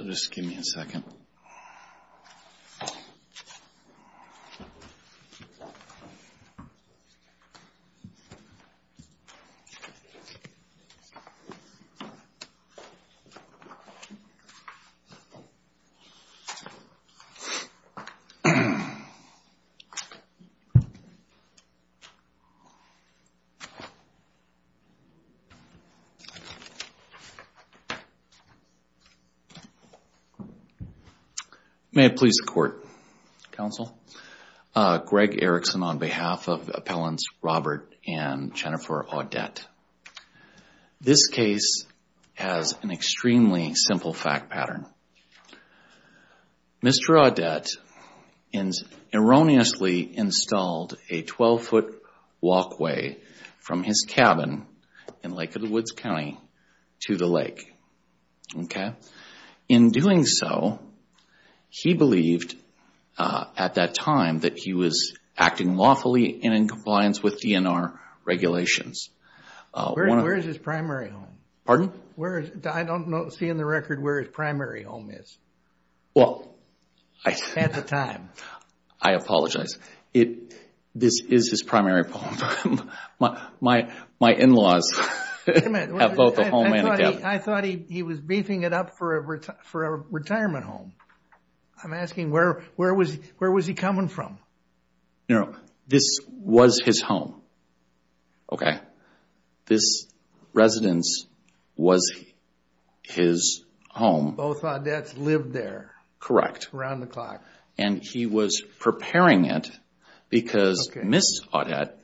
Just give me a second. May it please the Court, Counsel. Greg Erickson on behalf of Appellants Robert and Jennifer Audette. This case has an extremely simple fact pattern. Mr. Audette erroneously installed a 12-foot walkway from his cabin in Lake of the Woods County to the lake. In doing so, he believed at that time that he was acting lawfully and in compliance with DNR regulations. Where is his primary home? I don't see in the record where his primary home is at the time. I apologize. This is his primary home. My in-laws have both a home and a cabin. I thought he was beefing it up for a retirement home. I'm asking where was he coming from? This was his home. This residence was his home. Both Audettes lived there? Correct. Around the clock. He was preparing it because Ms. Audette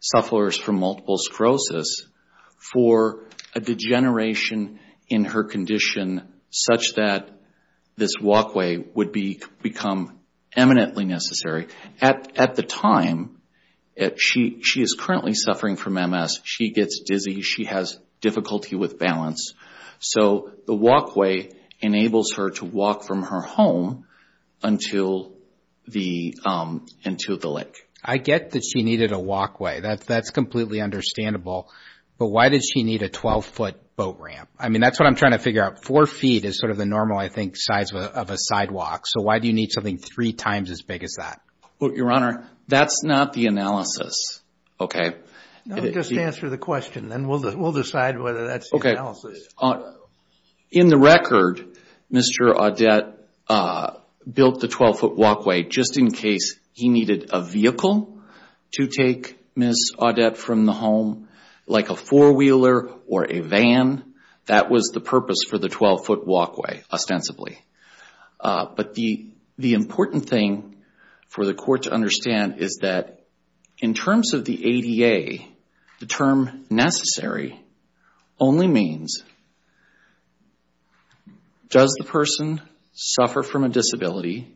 suffers from multiple sclerosis for a degeneration in her condition such that this walkway would become eminently necessary. At the time, she is currently suffering from MS. She gets dizzy. She has difficulty with balance. So the walkway enables her to walk from her home into the lake. I get that she needed a walkway. That's completely understandable. But why does she need a 12-foot boat ramp? That's what I'm trying to figure out. Four feet is sort of the normal, I think, size of a sidewalk. So why do you need something three times as big as that? Your Honor, that's not the analysis. Just answer the question. Then we'll decide whether that's the analysis. In the record, Mr. Audette built the 12-foot walkway just in case he needed a vehicle to take Ms. Audette from the home, like a four-wheeler or a van. That was the purpose for the 12-foot walkway, ostensibly. But the important thing for the court to understand is that in terms of the ADA, the term necessary only means does the person suffer from a disability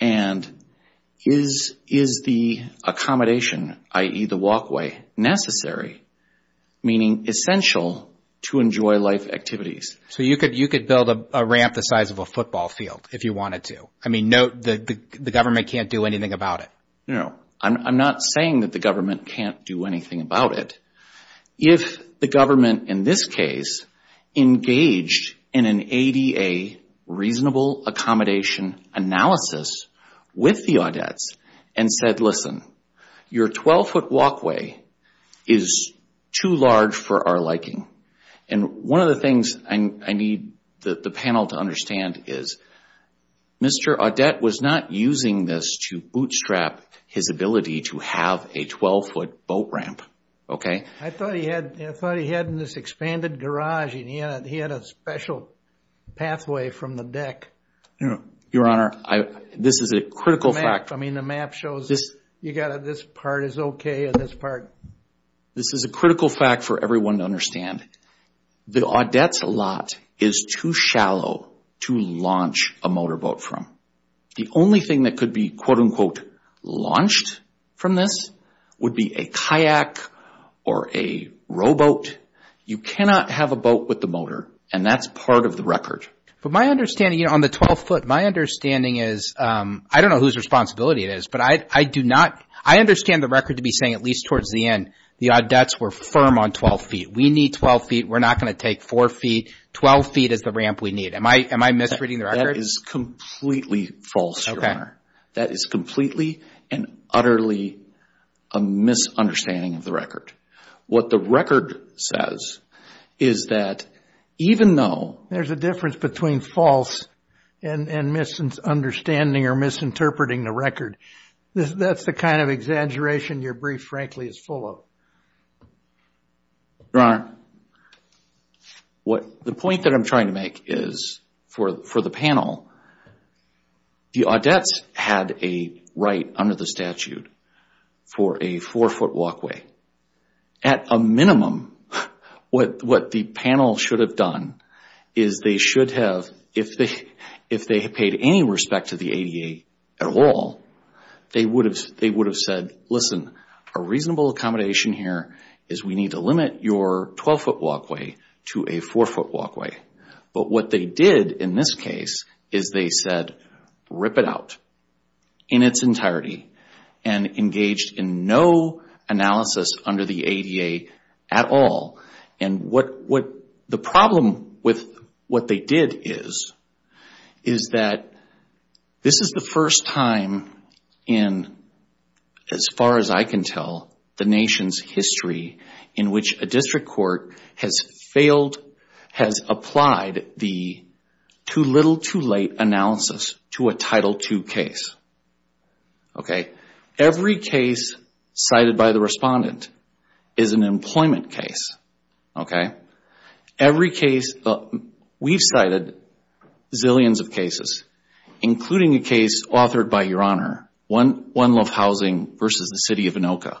and is the accommodation, i.e., the walkway, necessary, meaning essential to enjoy life activities. So you could build a ramp the size of a football field if you wanted to. I mean, the government can't do anything about it. No, I'm not saying that the government can't do anything about it. If the government, in this case, engaged in an ADA reasonable accommodation analysis with the Audettes and said, listen, your 12-foot walkway is too large for our liking. And one of the things I need the panel to understand is Mr. Audette was not using this to bootstrap his ability to have a 12-foot boat ramp, okay? I thought he had this expanded garage and he had a special pathway from the deck. Your Honor, this is a critical fact. I mean, the map shows this part is okay and this part. This is a critical fact for everyone to understand. The Audette's lot is too shallow to launch a motorboat from. The only thing that could be, quote-unquote, launched from this would be a kayak or a rowboat. You cannot have a boat with a motor and that's part of the record. But my understanding, you know, on the 12-foot, my understanding is, I don't know whose responsibility it is, but I do not, I understand the record to be saying at least towards the end, the Audettes were firm on 12 feet. We need 12 feet. We're not going to take 4 feet. 12 feet is the ramp we need. Am I misreading the record? That is completely false, Your Honor. That is completely and utterly a misunderstanding of the record. What the record says is that even though... There's a difference between false and misunderstanding or misinterpreting the record. That's the kind of exaggeration your brief, frankly, is full of. Your Honor, the point that I'm trying to make is for the panel, the Audettes had a right under the statute for a 4-foot walkway. At a minimum, what the panel should have done is they should have, if they had paid any respect to the ADA at all, they would have said, listen, a reasonable accommodation here is we need to limit your 12-foot walkway to a 4-foot walkway. But what they did in this case is they said, rip it out in its entirety and engaged in no analysis under the ADA at all. The problem with what they did is that this is the first time in, as far as I can tell, the nation's history in which a district court has failed, has applied the too little, too late analysis to a Title II case. Every case cited by the respondent is an employment case. Every case, we've cited zillions of cases, including a case authored by Your Honor, One Love Housing v. The City of Anoka.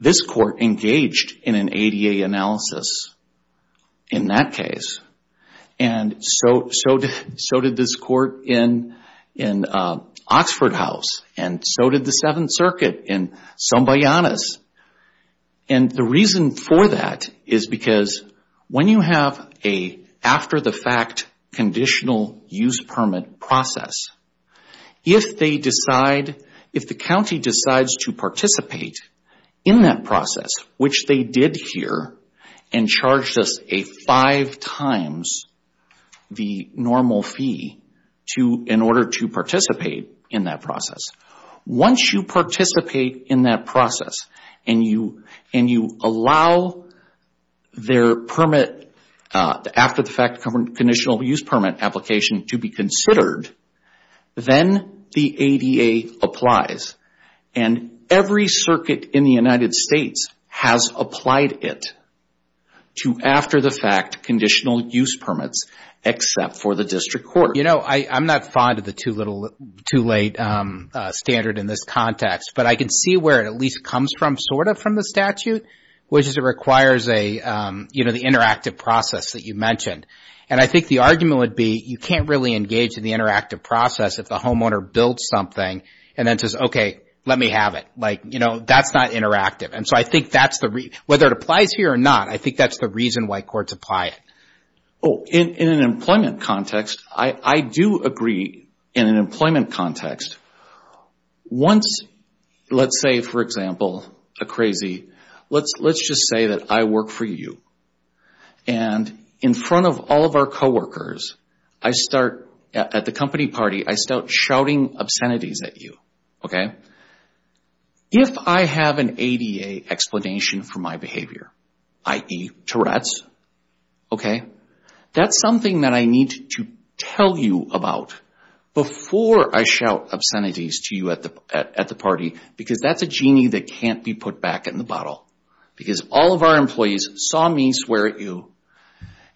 This court engaged in an ADA analysis in that case, and so did this court in Oxford House, and so did the Seventh Circuit in Sombayanas. And the reason for that is because when you have an after-the-fact conditional use permit process, if they decide, if the county decides to participate in that process, which they did here and charged us a five times the normal fee in order to participate in that process, once you participate in that process and you allow their after-the-fact conditional use permit application to be considered, then the ADA applies. And every circuit in the United States has applied it to after-the-fact conditional use permits, except for the district court. You know, I'm not fond of the too little, too late standard in this context, but I can see where it at least comes from, sort of, from the statute, which is it requires the interactive process that you mentioned. And I think the argument would be you can't really engage in the interactive process if the homeowner builds something and then says, okay, let me have it. Like, you know, that's not interactive. And so I think that's the reason, whether it applies here or not, I think that's the reason why courts apply it. Oh, in an employment context, I do agree. In an employment context, once, let's say, for example, a crazy, let's just say that I work for you. And in front of all of our coworkers, at the company party, I start shouting obscenities at you, okay? If I have an ADA explanation for my behavior, i.e., Tourette's, okay, that's something that I need to tell you about before I shout obscenities to you at the party, because that's a genie that can't be put back in the bottle. Because all of our employees saw me swear at you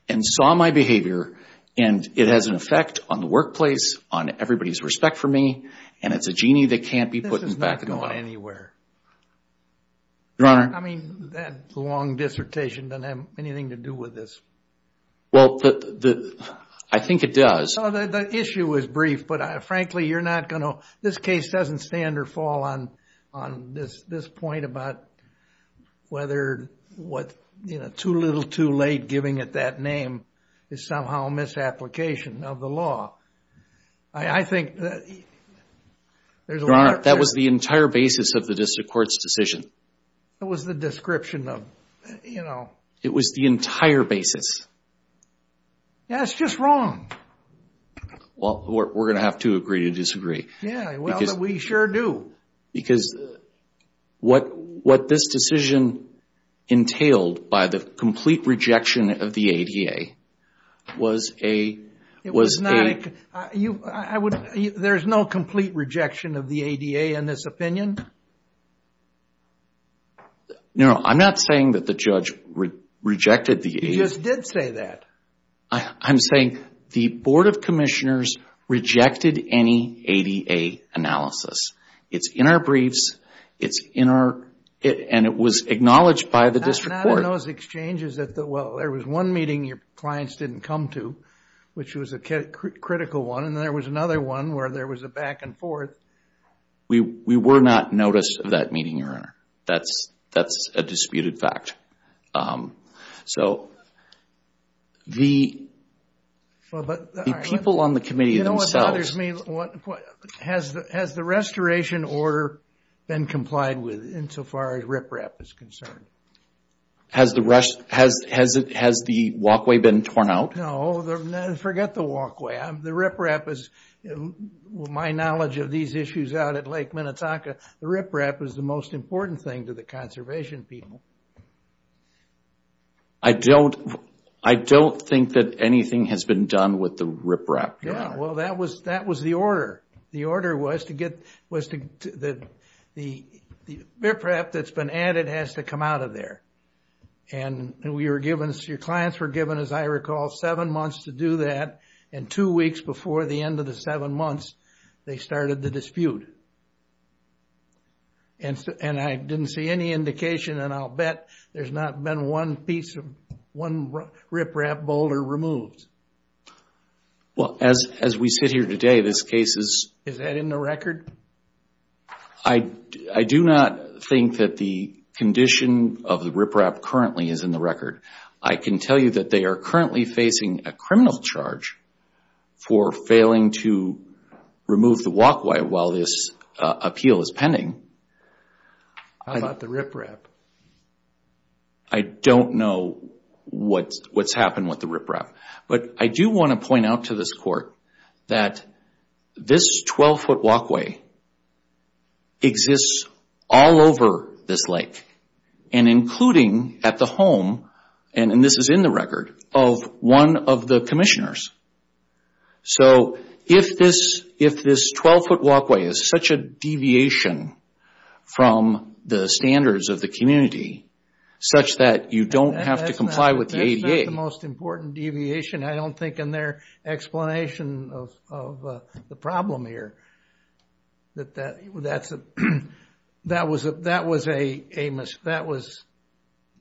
and saw my behavior, and it has an effect on the workplace, on everybody's respect for me, and it's a genie that can't be put back in the bottle. This is not going anywhere. Your Honor. I mean, that long dissertation doesn't have anything to do with this. Well, I think it does. The issue is brief, but frankly, you're not going to, it's somehow a misapplication of the law. Your Honor, that was the entire basis of the district court's decision. It was the description of, you know. Yeah, it's just wrong. Well, we're going to have to agree to disagree. Yeah, well, we sure do. Because what this decision entailed, by the complete rejection of the ADA, was a... There's no complete rejection of the ADA in this opinion? No, I'm not saying that the judge rejected the ADA. You just did say that. I'm saying the Board of Commissioners rejected any ADA analysis. It's in our briefs, and it was acknowledged by the district court. Not in those exchanges that, well, there was one meeting your clients didn't come to, which was a critical one, and there was another one where there was a back and forth. We were not noticed of that meeting, your Honor. That's a disputed fact. The people on the committee themselves... Has the restoration order been complied with insofar as RIPRAP is concerned? Has the walkway been torn out? No, forget the walkway. My knowledge of these issues out at Lake Minnetonka, the RIPRAP is the most important thing to the conservation people. I don't think that anything has been done with the RIPRAP. Yeah, well, that was the order. The RIPRAP that's been added has to come out of there. Your clients were given, as I recall, seven months to do that, and two weeks before the end of the seven months, they started the dispute. I didn't see any indication, and I'll bet there's not been one piece, one RIPRAP boulder removed. Well, as we sit here today, this case is... Is that in the record? I do not think that the condition of the RIPRAP currently is in the record. I can tell you that they are currently facing a criminal charge for failing to remove the walkway while this appeal is pending. How about the RIPRAP? I don't know what's happened with the RIPRAP, but I do want to point out to this Court that this 12-foot walkway exists all over this lake, and including at the home, and this is in the record, of one of the commissioners. So if this 12-foot walkway is such a deviation from the standards of the community, such that you don't have to comply with the ADA... That's not the most important deviation, I don't think, in their explanation of the problem here. That was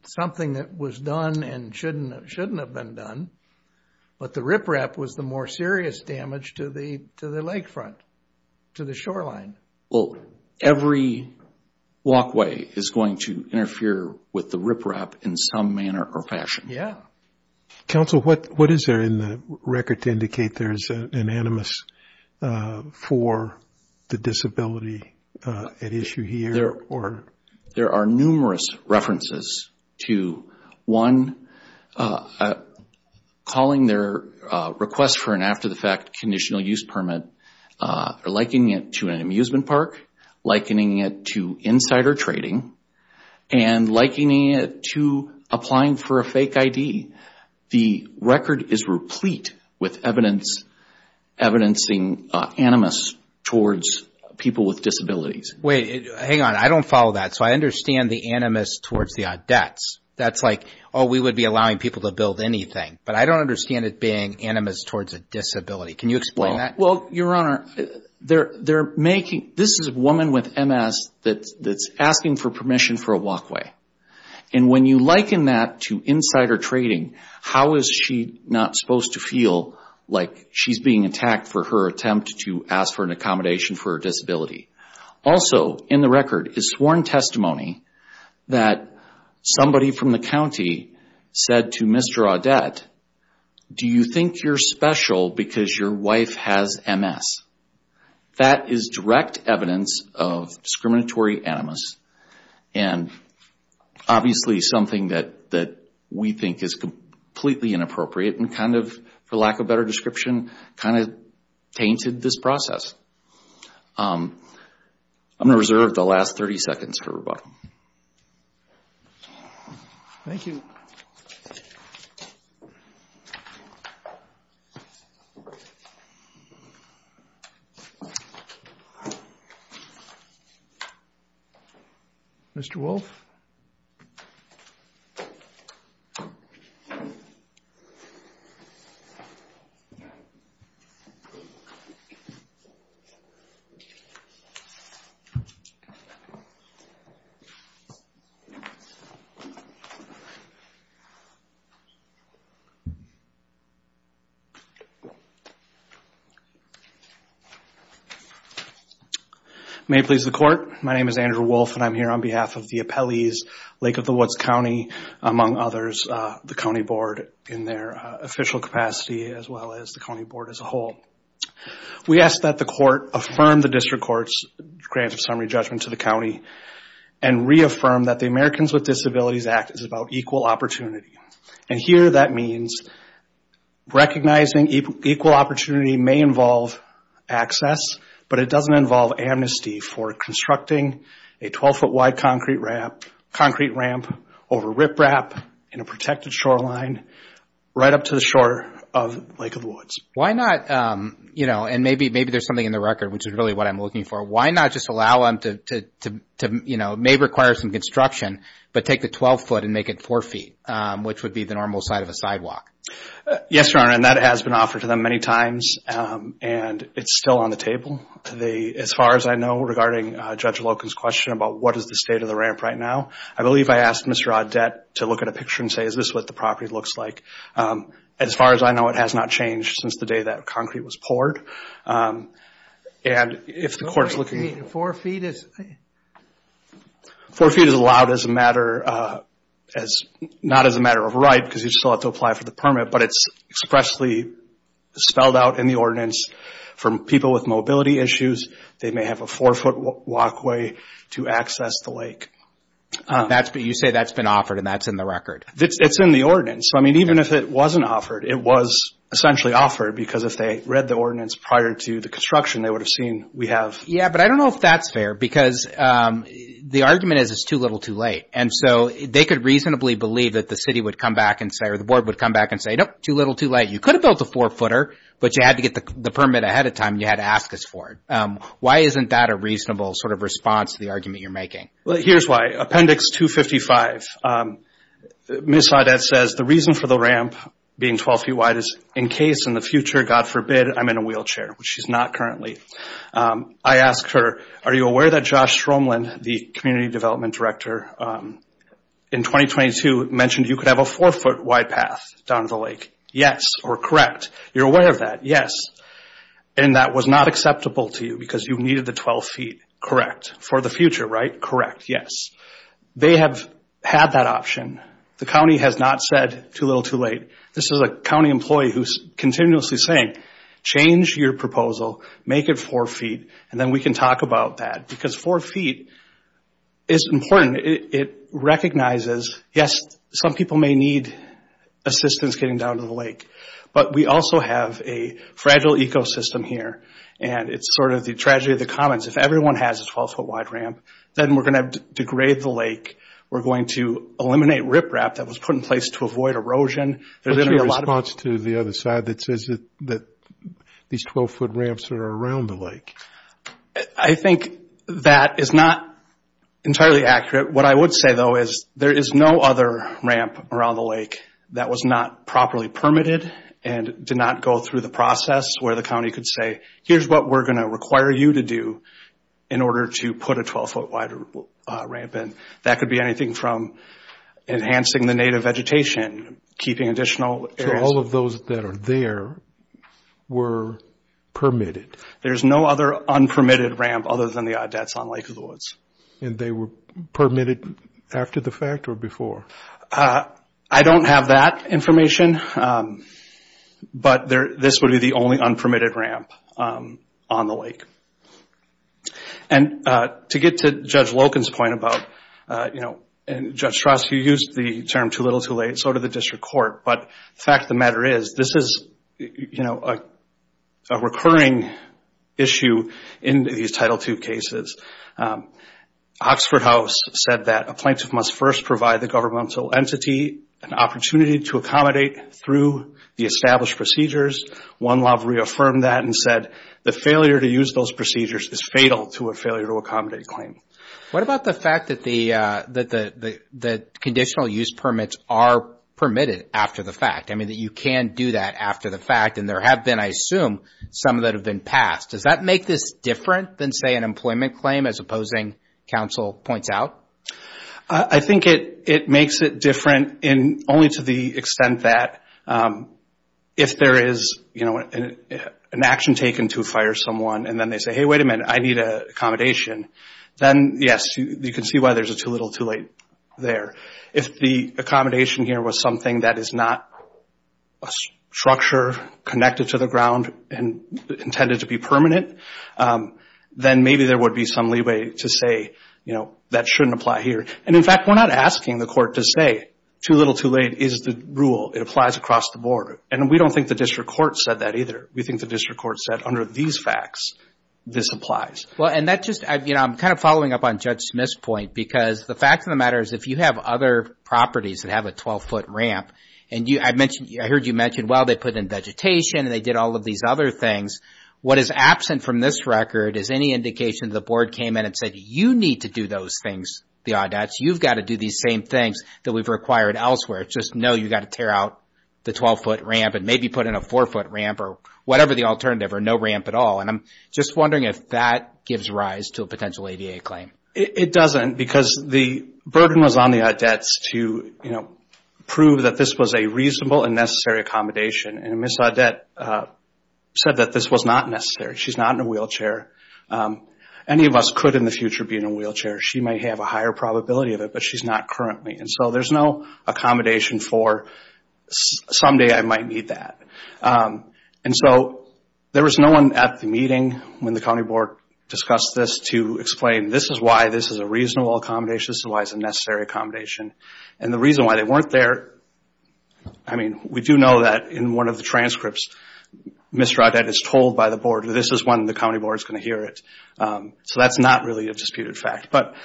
something that was done and shouldn't have been done, but the RIPRAP was the more serious damage to the lakefront, to the shoreline. Well, every walkway is going to interfere with the RIPRAP in some manner or fashion. Counsel, what is there in the record to indicate there is an animus for the disability at issue here? There are numerous references to, one, calling their request for an after-the-fact conditional use permit, likening it to an amusement park, likening it to insider trading, and likening it to applying for a fake ID. The record is replete with evidence, evidencing animus towards people with disabilities. Wait, hang on, I don't follow that. So I understand the animus towards the odd debts. That's like, oh, we would be allowing people to build anything, but I don't understand it being animus towards a disability. Can you explain that? Well, Your Honor, this is a woman with MS that's asking for permission for a walkway. And when you liken that to insider trading, how is she not supposed to feel like she's being attacked for her attempt to ask for an accommodation for a disability? Also in the record is sworn testimony that somebody from the county said to Mr. Odette, do you think you're special because your wife has MS? That is direct evidence of discriminatory animus, and obviously something that we think is completely inappropriate and kind of, for lack of a better description, kind of tainted this process. I'm going to reserve the last 30 seconds for rebuttal. Mr. Wolf. May it please the court. My name is Andrew Wolf, and I'm here on behalf of the appellees, Lake of the Woods County, among others, the county board in their official capacity as well as the county board as a whole. We ask that the court affirm the district court's grant of summary judgment to the county and reaffirm that the Americans with Disabilities Act is about equal opportunity. And here that means recognizing equal opportunity may involve access, but it doesn't involve amnesty for constructing a 12-foot-wide concrete ramp over riprap in a protected shoreline right up to the shore of Lake of the Woods. Why not, you know, and maybe there's something in the record which is really what I'm looking for, why not just allow them to, you know, may require some construction, but take the 12-foot and make it 4 feet, which would be the normal size of a sidewalk? Yes, Your Honor, and that has been offered to them many times, and it's still on the table. As far as I know, regarding Judge Loken's question about what is the state of the ramp right now, I believe I asked Mr. Audette to look at a picture and say, is this what the property looks like? As far as I know, it has not changed since the day that concrete was poured. And if the Court's looking... 4 feet is allowed not as a matter of right, because you still have to apply for the permit, but it's expressly spelled out in the ordinance for people with mobility issues. They may have a 4-foot walkway to access the lake. You say that's been offered and that's in the record. It's in the ordinance, so, I mean, even if it wasn't offered, it was essentially offered, because if they read the ordinance prior to the construction, they would have seen we have... Yeah, but I don't know if that's fair, because the argument is it's too little, too late. And so they could reasonably believe that the city would come back and say, or the Board would come back and say, nope, too little, too late, you could have built a 4-footer, but you had to get the permit ahead of time, and you had to ask us for it. Why isn't that a reasonable sort of response to the argument you're making? Well, here's why. Appendix 255, Ms. Saadat says the reason for the ramp being 12 feet wide is in case in the future, God forbid, I'm in a wheelchair, which she's not currently. I asked her, are you aware that Josh Stromlin, the Community Development Director, in 2022, mentioned you could have a 4-foot wide path down to the lake? Yes, or correct. You're aware of that. Yes. And that was not acceptable to you because you needed the 12 feet. Correct. For the future, right? Correct. Yes. They have had that option. The county has not said too little, too late. This is a county employee who's continuously saying, change your proposal, make it 4 feet, and then we can talk about that, because 4 feet is important. It recognizes, yes, some people may need assistance getting down to the lake, but we also have a fragile ecosystem here, and it's sort of the tragedy of the commons. If everyone has a 12-foot wide ramp, then we're going to degrade the lake. We're going to eliminate riprap that was put in place to avoid erosion. What's your response to the other side that says that these 12-foot ramps are around the lake? I think that is not entirely accurate. What I would say, though, is there is no other ramp around the lake that was not properly permitted and did not go through the process where the county could say, here's what we're going to require you to do in order to put a 12-foot wide ramp in. That could be anything from enhancing the native vegetation, keeping additional areas. So all of those that are there were permitted. There's no other unpermitted ramp other than the Odets on Lake of the Woods. And they were permitted after the fact or before? I don't have that information, but this would be the only unpermitted ramp on the lake. And to get to Judge Loken's point about, and Judge Strass, you used the term too little, too late, and so did the district court. But the fact of the matter is, this is a recurring issue in these Title II cases. Oxford House said that a plaintiff must first provide the governmental entity an opportunity to accommodate through the established procedures. One law reaffirmed that and said the failure to use those procedures is fatal to a failure to accommodate claim. What about the fact that the conditional use permits are permitted after the fact? I mean, you can do that after the fact, and there have been, I assume, some that have been passed. Does that make this different than, say, an employment claim as opposing counsel points out? I think it makes it different only to the extent that if there is an action taken to fire someone and then they say, hey, wait a minute, I need accommodation. Then, yes, you can see why there's a too little, too late there. If the accommodation here was something that is not a structure connected to the ground and intended to be permanent, then maybe there would be some leeway to say, you know, that shouldn't apply here. And, in fact, we're not asking the court to say too little, too late is the rule. It applies across the board. And we don't think the district court said that either. We think the district court said, under these facts, this applies. Well, and that just, you know, I'm kind of following up on Judge Smith's point because the fact of the matter is if you have other properties that have a 12-foot ramp, and I heard you mention, well, they put in vegetation and they did all of these other things. What is absent from this record is any indication the board came in and said, you need to do those things, the audats. You've got to do these same things that we've required elsewhere. It's just, no, you've got to tear out the 12-foot ramp and maybe put in a 4-foot ramp or whatever the alternative or no ramp at all. And I'm just wondering if that gives rise to a potential ADA claim. It doesn't because the burden was on the audats to, you know, prove that this was a reasonable and necessary accommodation. And Ms. Audet said that this was not necessary. She's not in a wheelchair. Any of us could in the future be in a wheelchair. She might have a higher probability of it, but she's not currently. And so there's no accommodation for someday I might need that. And so there was no one at the meeting when the county board discussed this to explain, this is why this is a reasonable accommodation, this is why it's a necessary accommodation. And the reason why they weren't there, I mean, we do know that in one of the transcripts, Ms. Audet is told by the board, this is when the county board is going to hear it. So that's not really a disputed fact. But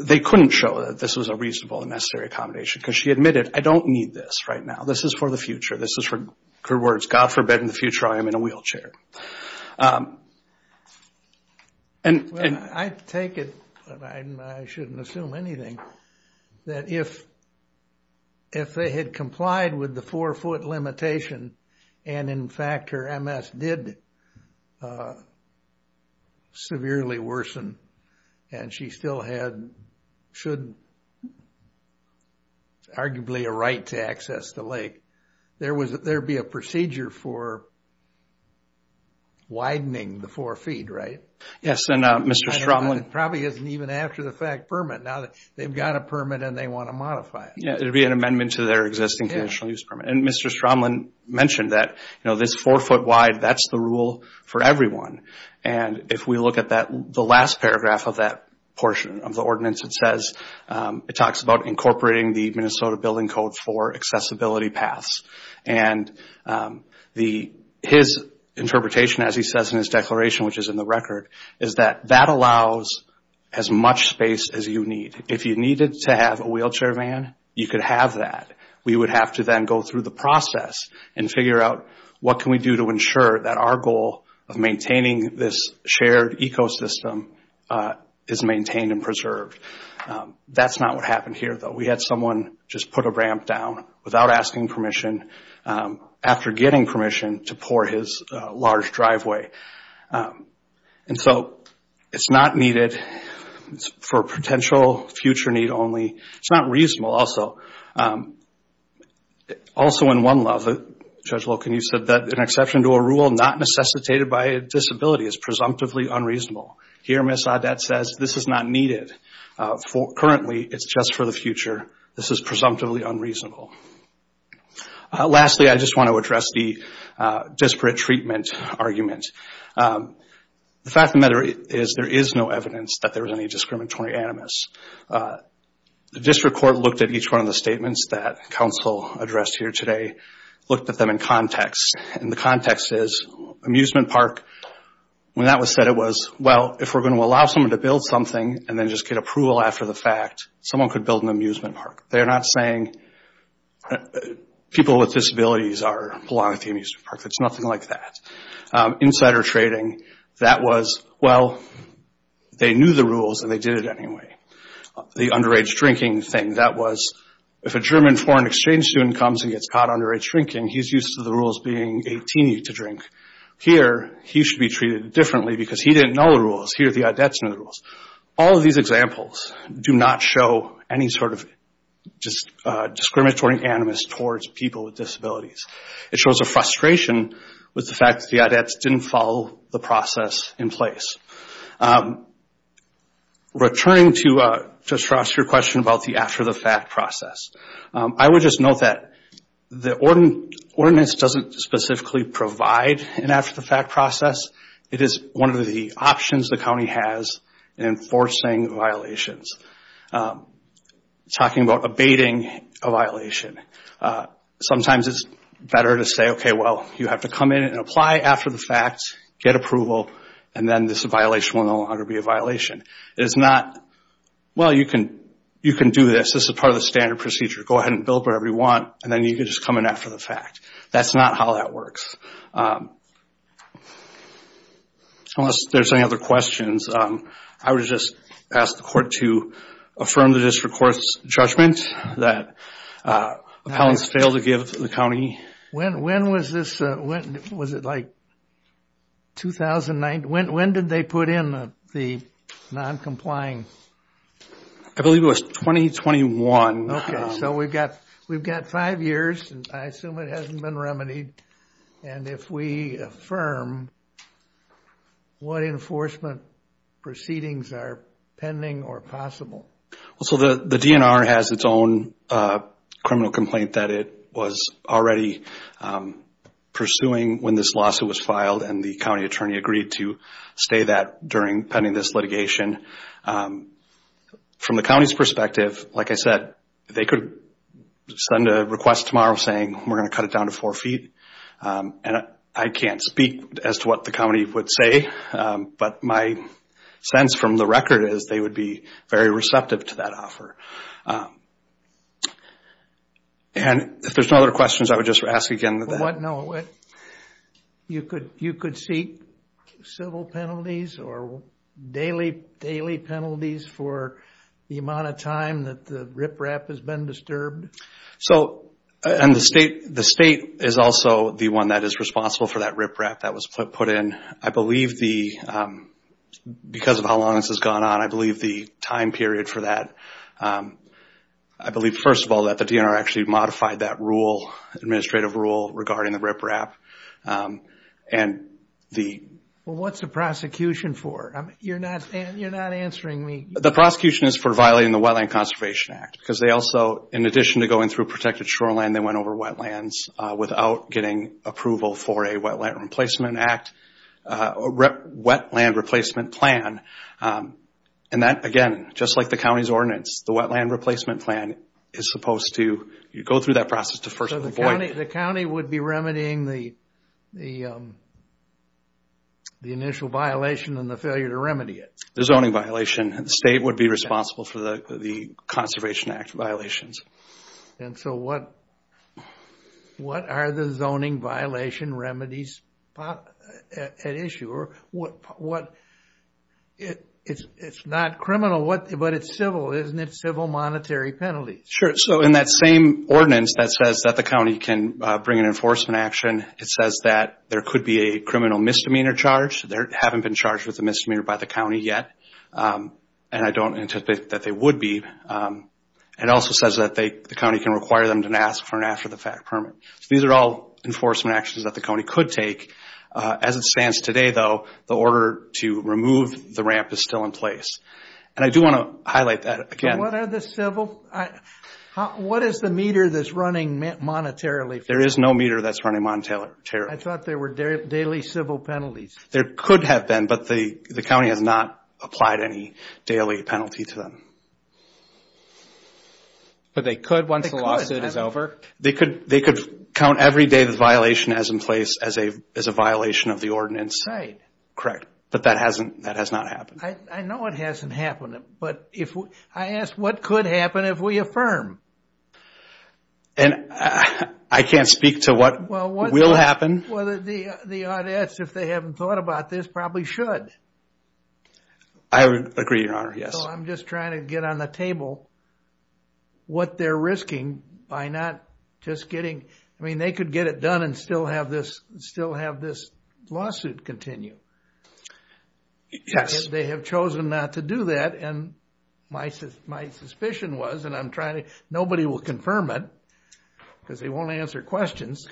they couldn't show that this was a reasonable and necessary accommodation because she admitted, I don't need this right now. This is for the future. This is, for words, God forbid in the future I am in a wheelchair. And I take it, and I shouldn't assume anything, that if they had complied with the four-foot limitation, and in fact her MS did severely worsen, and she still had, should, arguably a right to access the lake, there would be a procedure for widening the four feet, right? Yes, and Mr. Stromlin... It probably isn't even after the fact permit. Now they've got a permit and they want to modify it. Yeah, it would be an amendment to their existing conditional use permit. And Mr. Stromlin mentioned that this four-foot wide, that's the rule for everyone. And if we look at the last paragraph of that portion of the ordinance, it talks about incorporating the Minnesota Building Code for accessibility paths. And his interpretation, as he says in his declaration, which is in the record, is that that allows as much space as you need. If you needed to have a wheelchair van, you could have that. We would have to then go through the process and figure out what can we do to ensure that our goal of maintaining this shared ecosystem is maintained and preserved. That's not what happened here, though. We had someone just put a ramp down without asking permission, after getting permission, to pour his large driveway. And so it's not needed for potential future need only. It's not reasonable also. Also in one law, Judge Loken, you said that an exception to a rule not necessitated by a disability is presumptively unreasonable. Here Ms. Audet says this is not needed. Currently, it's just for the future. This is presumptively unreasonable. Lastly, I just want to address the disparate treatment argument. The fact of the matter is there is no evidence that there was any discriminatory animus. The district court looked at each one of the statements that counsel addressed here today, looked at them in context. And the context is amusement park, when that was said, it was, well, if we're going to allow someone to build something and then just get approval after the fact, someone could build an amusement park. They're not saying people with disabilities belong at the amusement park. It's nothing like that. Insider trading, that was, well, they knew the rules and they did it anyway. The underage drinking thing, that was, if a German foreign exchange student comes and gets caught underage drinking, he's used to the rules being 18 to drink. Here, he should be treated differently because he didn't know the rules. Here, the Audets knew the rules. All of these examples do not show any sort of discriminatory animus towards people with disabilities. It shows a frustration with the fact that the Audets didn't follow the process in place. Returning to Josh's question about the after-the-fact process, I would just note that the ordinance doesn't specifically provide an after-the-fact process. It is one of the options the county has in enforcing violations, talking about abating a violation. Sometimes it's better to say, okay, well, you have to come in and apply after the fact, get approval, and then this violation will no longer be a violation. It's not, well, you can do this. This is part of the standard procedure. Go ahead and build whatever you want, and then you can just come in after the fact. That's not how that works. Unless there's any other questions, I would just ask the court to affirm the district court's judgment that appellants failed to give the county. When was this? Was it like 2009? When did they put in the non-complying? I believe it was 2021. Okay, so we've got five years, and I assume it hasn't been remedied. And if we affirm, what enforcement proceedings are pending or possible? Well, so the DNR has its own criminal complaint that it was already pursuing when this lawsuit was filed, and the county attorney agreed to stay that pending this litigation. From the county's perspective, like I said, they could send a request tomorrow saying, we're going to cut it down to four feet, and I can't speak as to what the county would say, but my sense from the record is they would be very receptive to that offer. And if there's no other questions, I would just ask again that that. You could seek civil penalties or daily penalties for the amount of time that the riprap has been disturbed? And the state is also the one that is responsible for that riprap that was put in. I believe because of how long this has gone on, I believe the time period for that, I believe, first of all, that the DNR actually modified that administrative rule regarding the riprap. Well, what's the prosecution for? You're not answering me. The prosecution is for violating the Wetland Conservation Act because they also, in addition to going through protected shoreland, they went over wetlands without getting approval for a Wetland Replacement Plan. And that, again, just like the county's ordinance, the Wetland Replacement Plan is supposed to go through that process to first avoid it. So the county would be remedying the initial violation and the failure to remedy it? The zoning violation. The state would be responsible for the Conservation Act violations. And so what are the zoning violation remedies at issue? It's not criminal, but it's civil, isn't it? Civil monetary penalties. Sure. So in that same ordinance that says that the county can bring an enforcement action, it says that there could be a criminal misdemeanor charge. They haven't been charged with a misdemeanor by the county yet. And I don't anticipate that they would be. It also says that the county can require them to ask for an after-the-fact permit. These are all enforcement actions that the county could take. As it stands today, though, the order to remove the ramp is still in place. And I do want to highlight that again. What are the civil? What is the meter that's running monetarily? There is no meter that's running monetarily. I thought there were daily civil penalties. There could have been, but the county has not applied any daily penalty to them. But they could once the lawsuit is over? They could. They could count every day the violation as in place as a violation of the ordinance. Right. Correct. But that has not happened. I know it hasn't happened, but I ask what could happen if we affirm? And I can't speak to what will happen. Well, the audits, if they haven't thought about this, probably should. I agree, Your Honor. Yes. I'm just trying to get on the table what they're risking by not just getting. I mean, they could get it done and still have this lawsuit continue. Yes. They have chosen not to do that. And my suspicion was, and I'm trying to. Nobody will confirm it because they won't answer questions.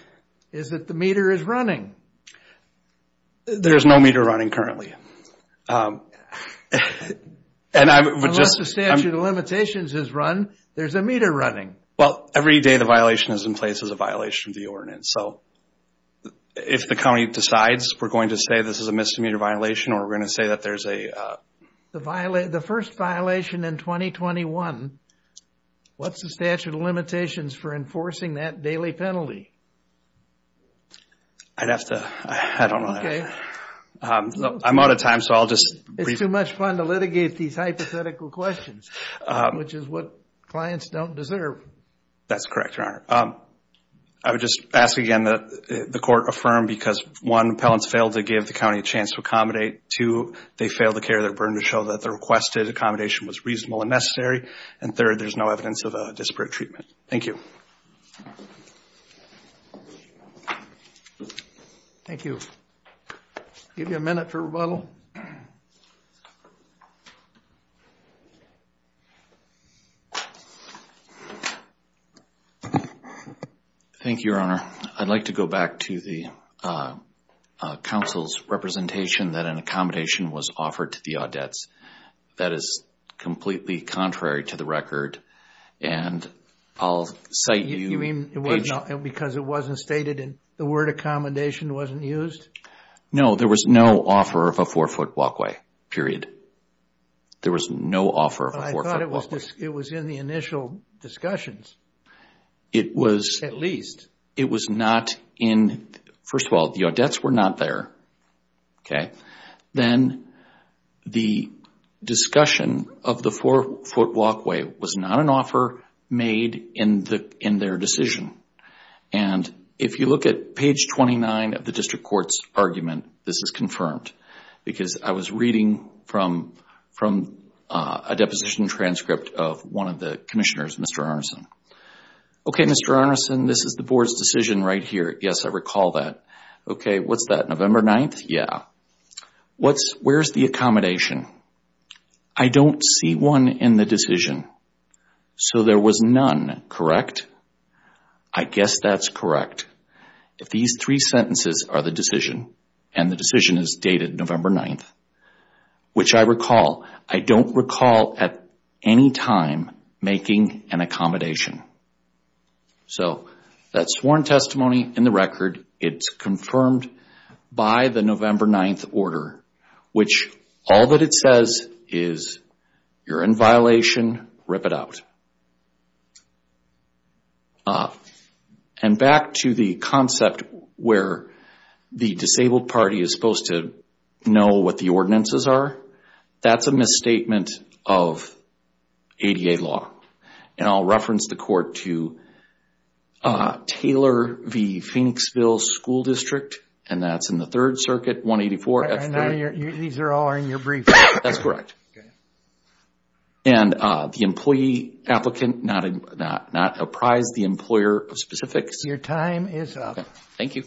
Is that the meter is running? There's no meter running currently. Unless the statute of limitations has run, there's a meter running. Well, every day the violation is in place as a violation of the ordinance. So if the county decides we're going to say this is a misdemeanor violation or we're going to say that there's a. The first violation in 2021, what's the statute of limitations for enforcing that daily penalty? I'd have to. I don't know. Okay. I'm out of time, so I'll just. It's too much fun to litigate these hypothetical questions, which is what clients don't deserve. That's correct, Your Honor. I would just ask again that the court affirm because, one, appellants failed to give the county a chance to accommodate. Two, they failed to carry their burden to show that the requested accommodation was reasonable and necessary. And third, there's no evidence of a disparate treatment. Thank you. Thank you. I'll give you a minute for rebuttal. Thank you, Your Honor. I'd like to go back to the council's representation that an accommodation was offered to the audets. That is completely contrary to the record. And I'll cite you. You mean because it wasn't stated and the word accommodation wasn't used? No. There was no offer of a four-foot walkway, period. There was no offer of a four-foot walkway. But I thought it was in the initial discussions. It was. At least. It was not in. First of all, the audets were not there. Okay. Then the discussion of the four-foot walkway was not an offer made in their decision. And if you look at page 29 of the district court's argument, this is confirmed. Because I was reading from a deposition transcript of one of the commissioners, Mr. Arneson. Okay, Mr. Arneson, this is the board's decision right here. Yes, I recall that. Okay, what's that, November 9th? Yeah. Where's the accommodation? I don't see one in the decision. So there was none, correct? I guess that's correct. If these three sentences are the decision, and the decision is dated November 9th, which I recall, I don't recall at any time making an accommodation. So that's sworn testimony in the record. It's confirmed by the November 9th order, which all that it says is, you're in violation, rip it out. And back to the concept where the disabled party is supposed to know what the ordinances are, that's a misstatement of ADA law. And I'll reference the court to Taylor v. Phoenixville School District, and that's in the Third Circuit, 184. And these are all in your brief? That's correct. Okay. And the employee applicant not apprised the employer of specifics. Your time is up. Thank you.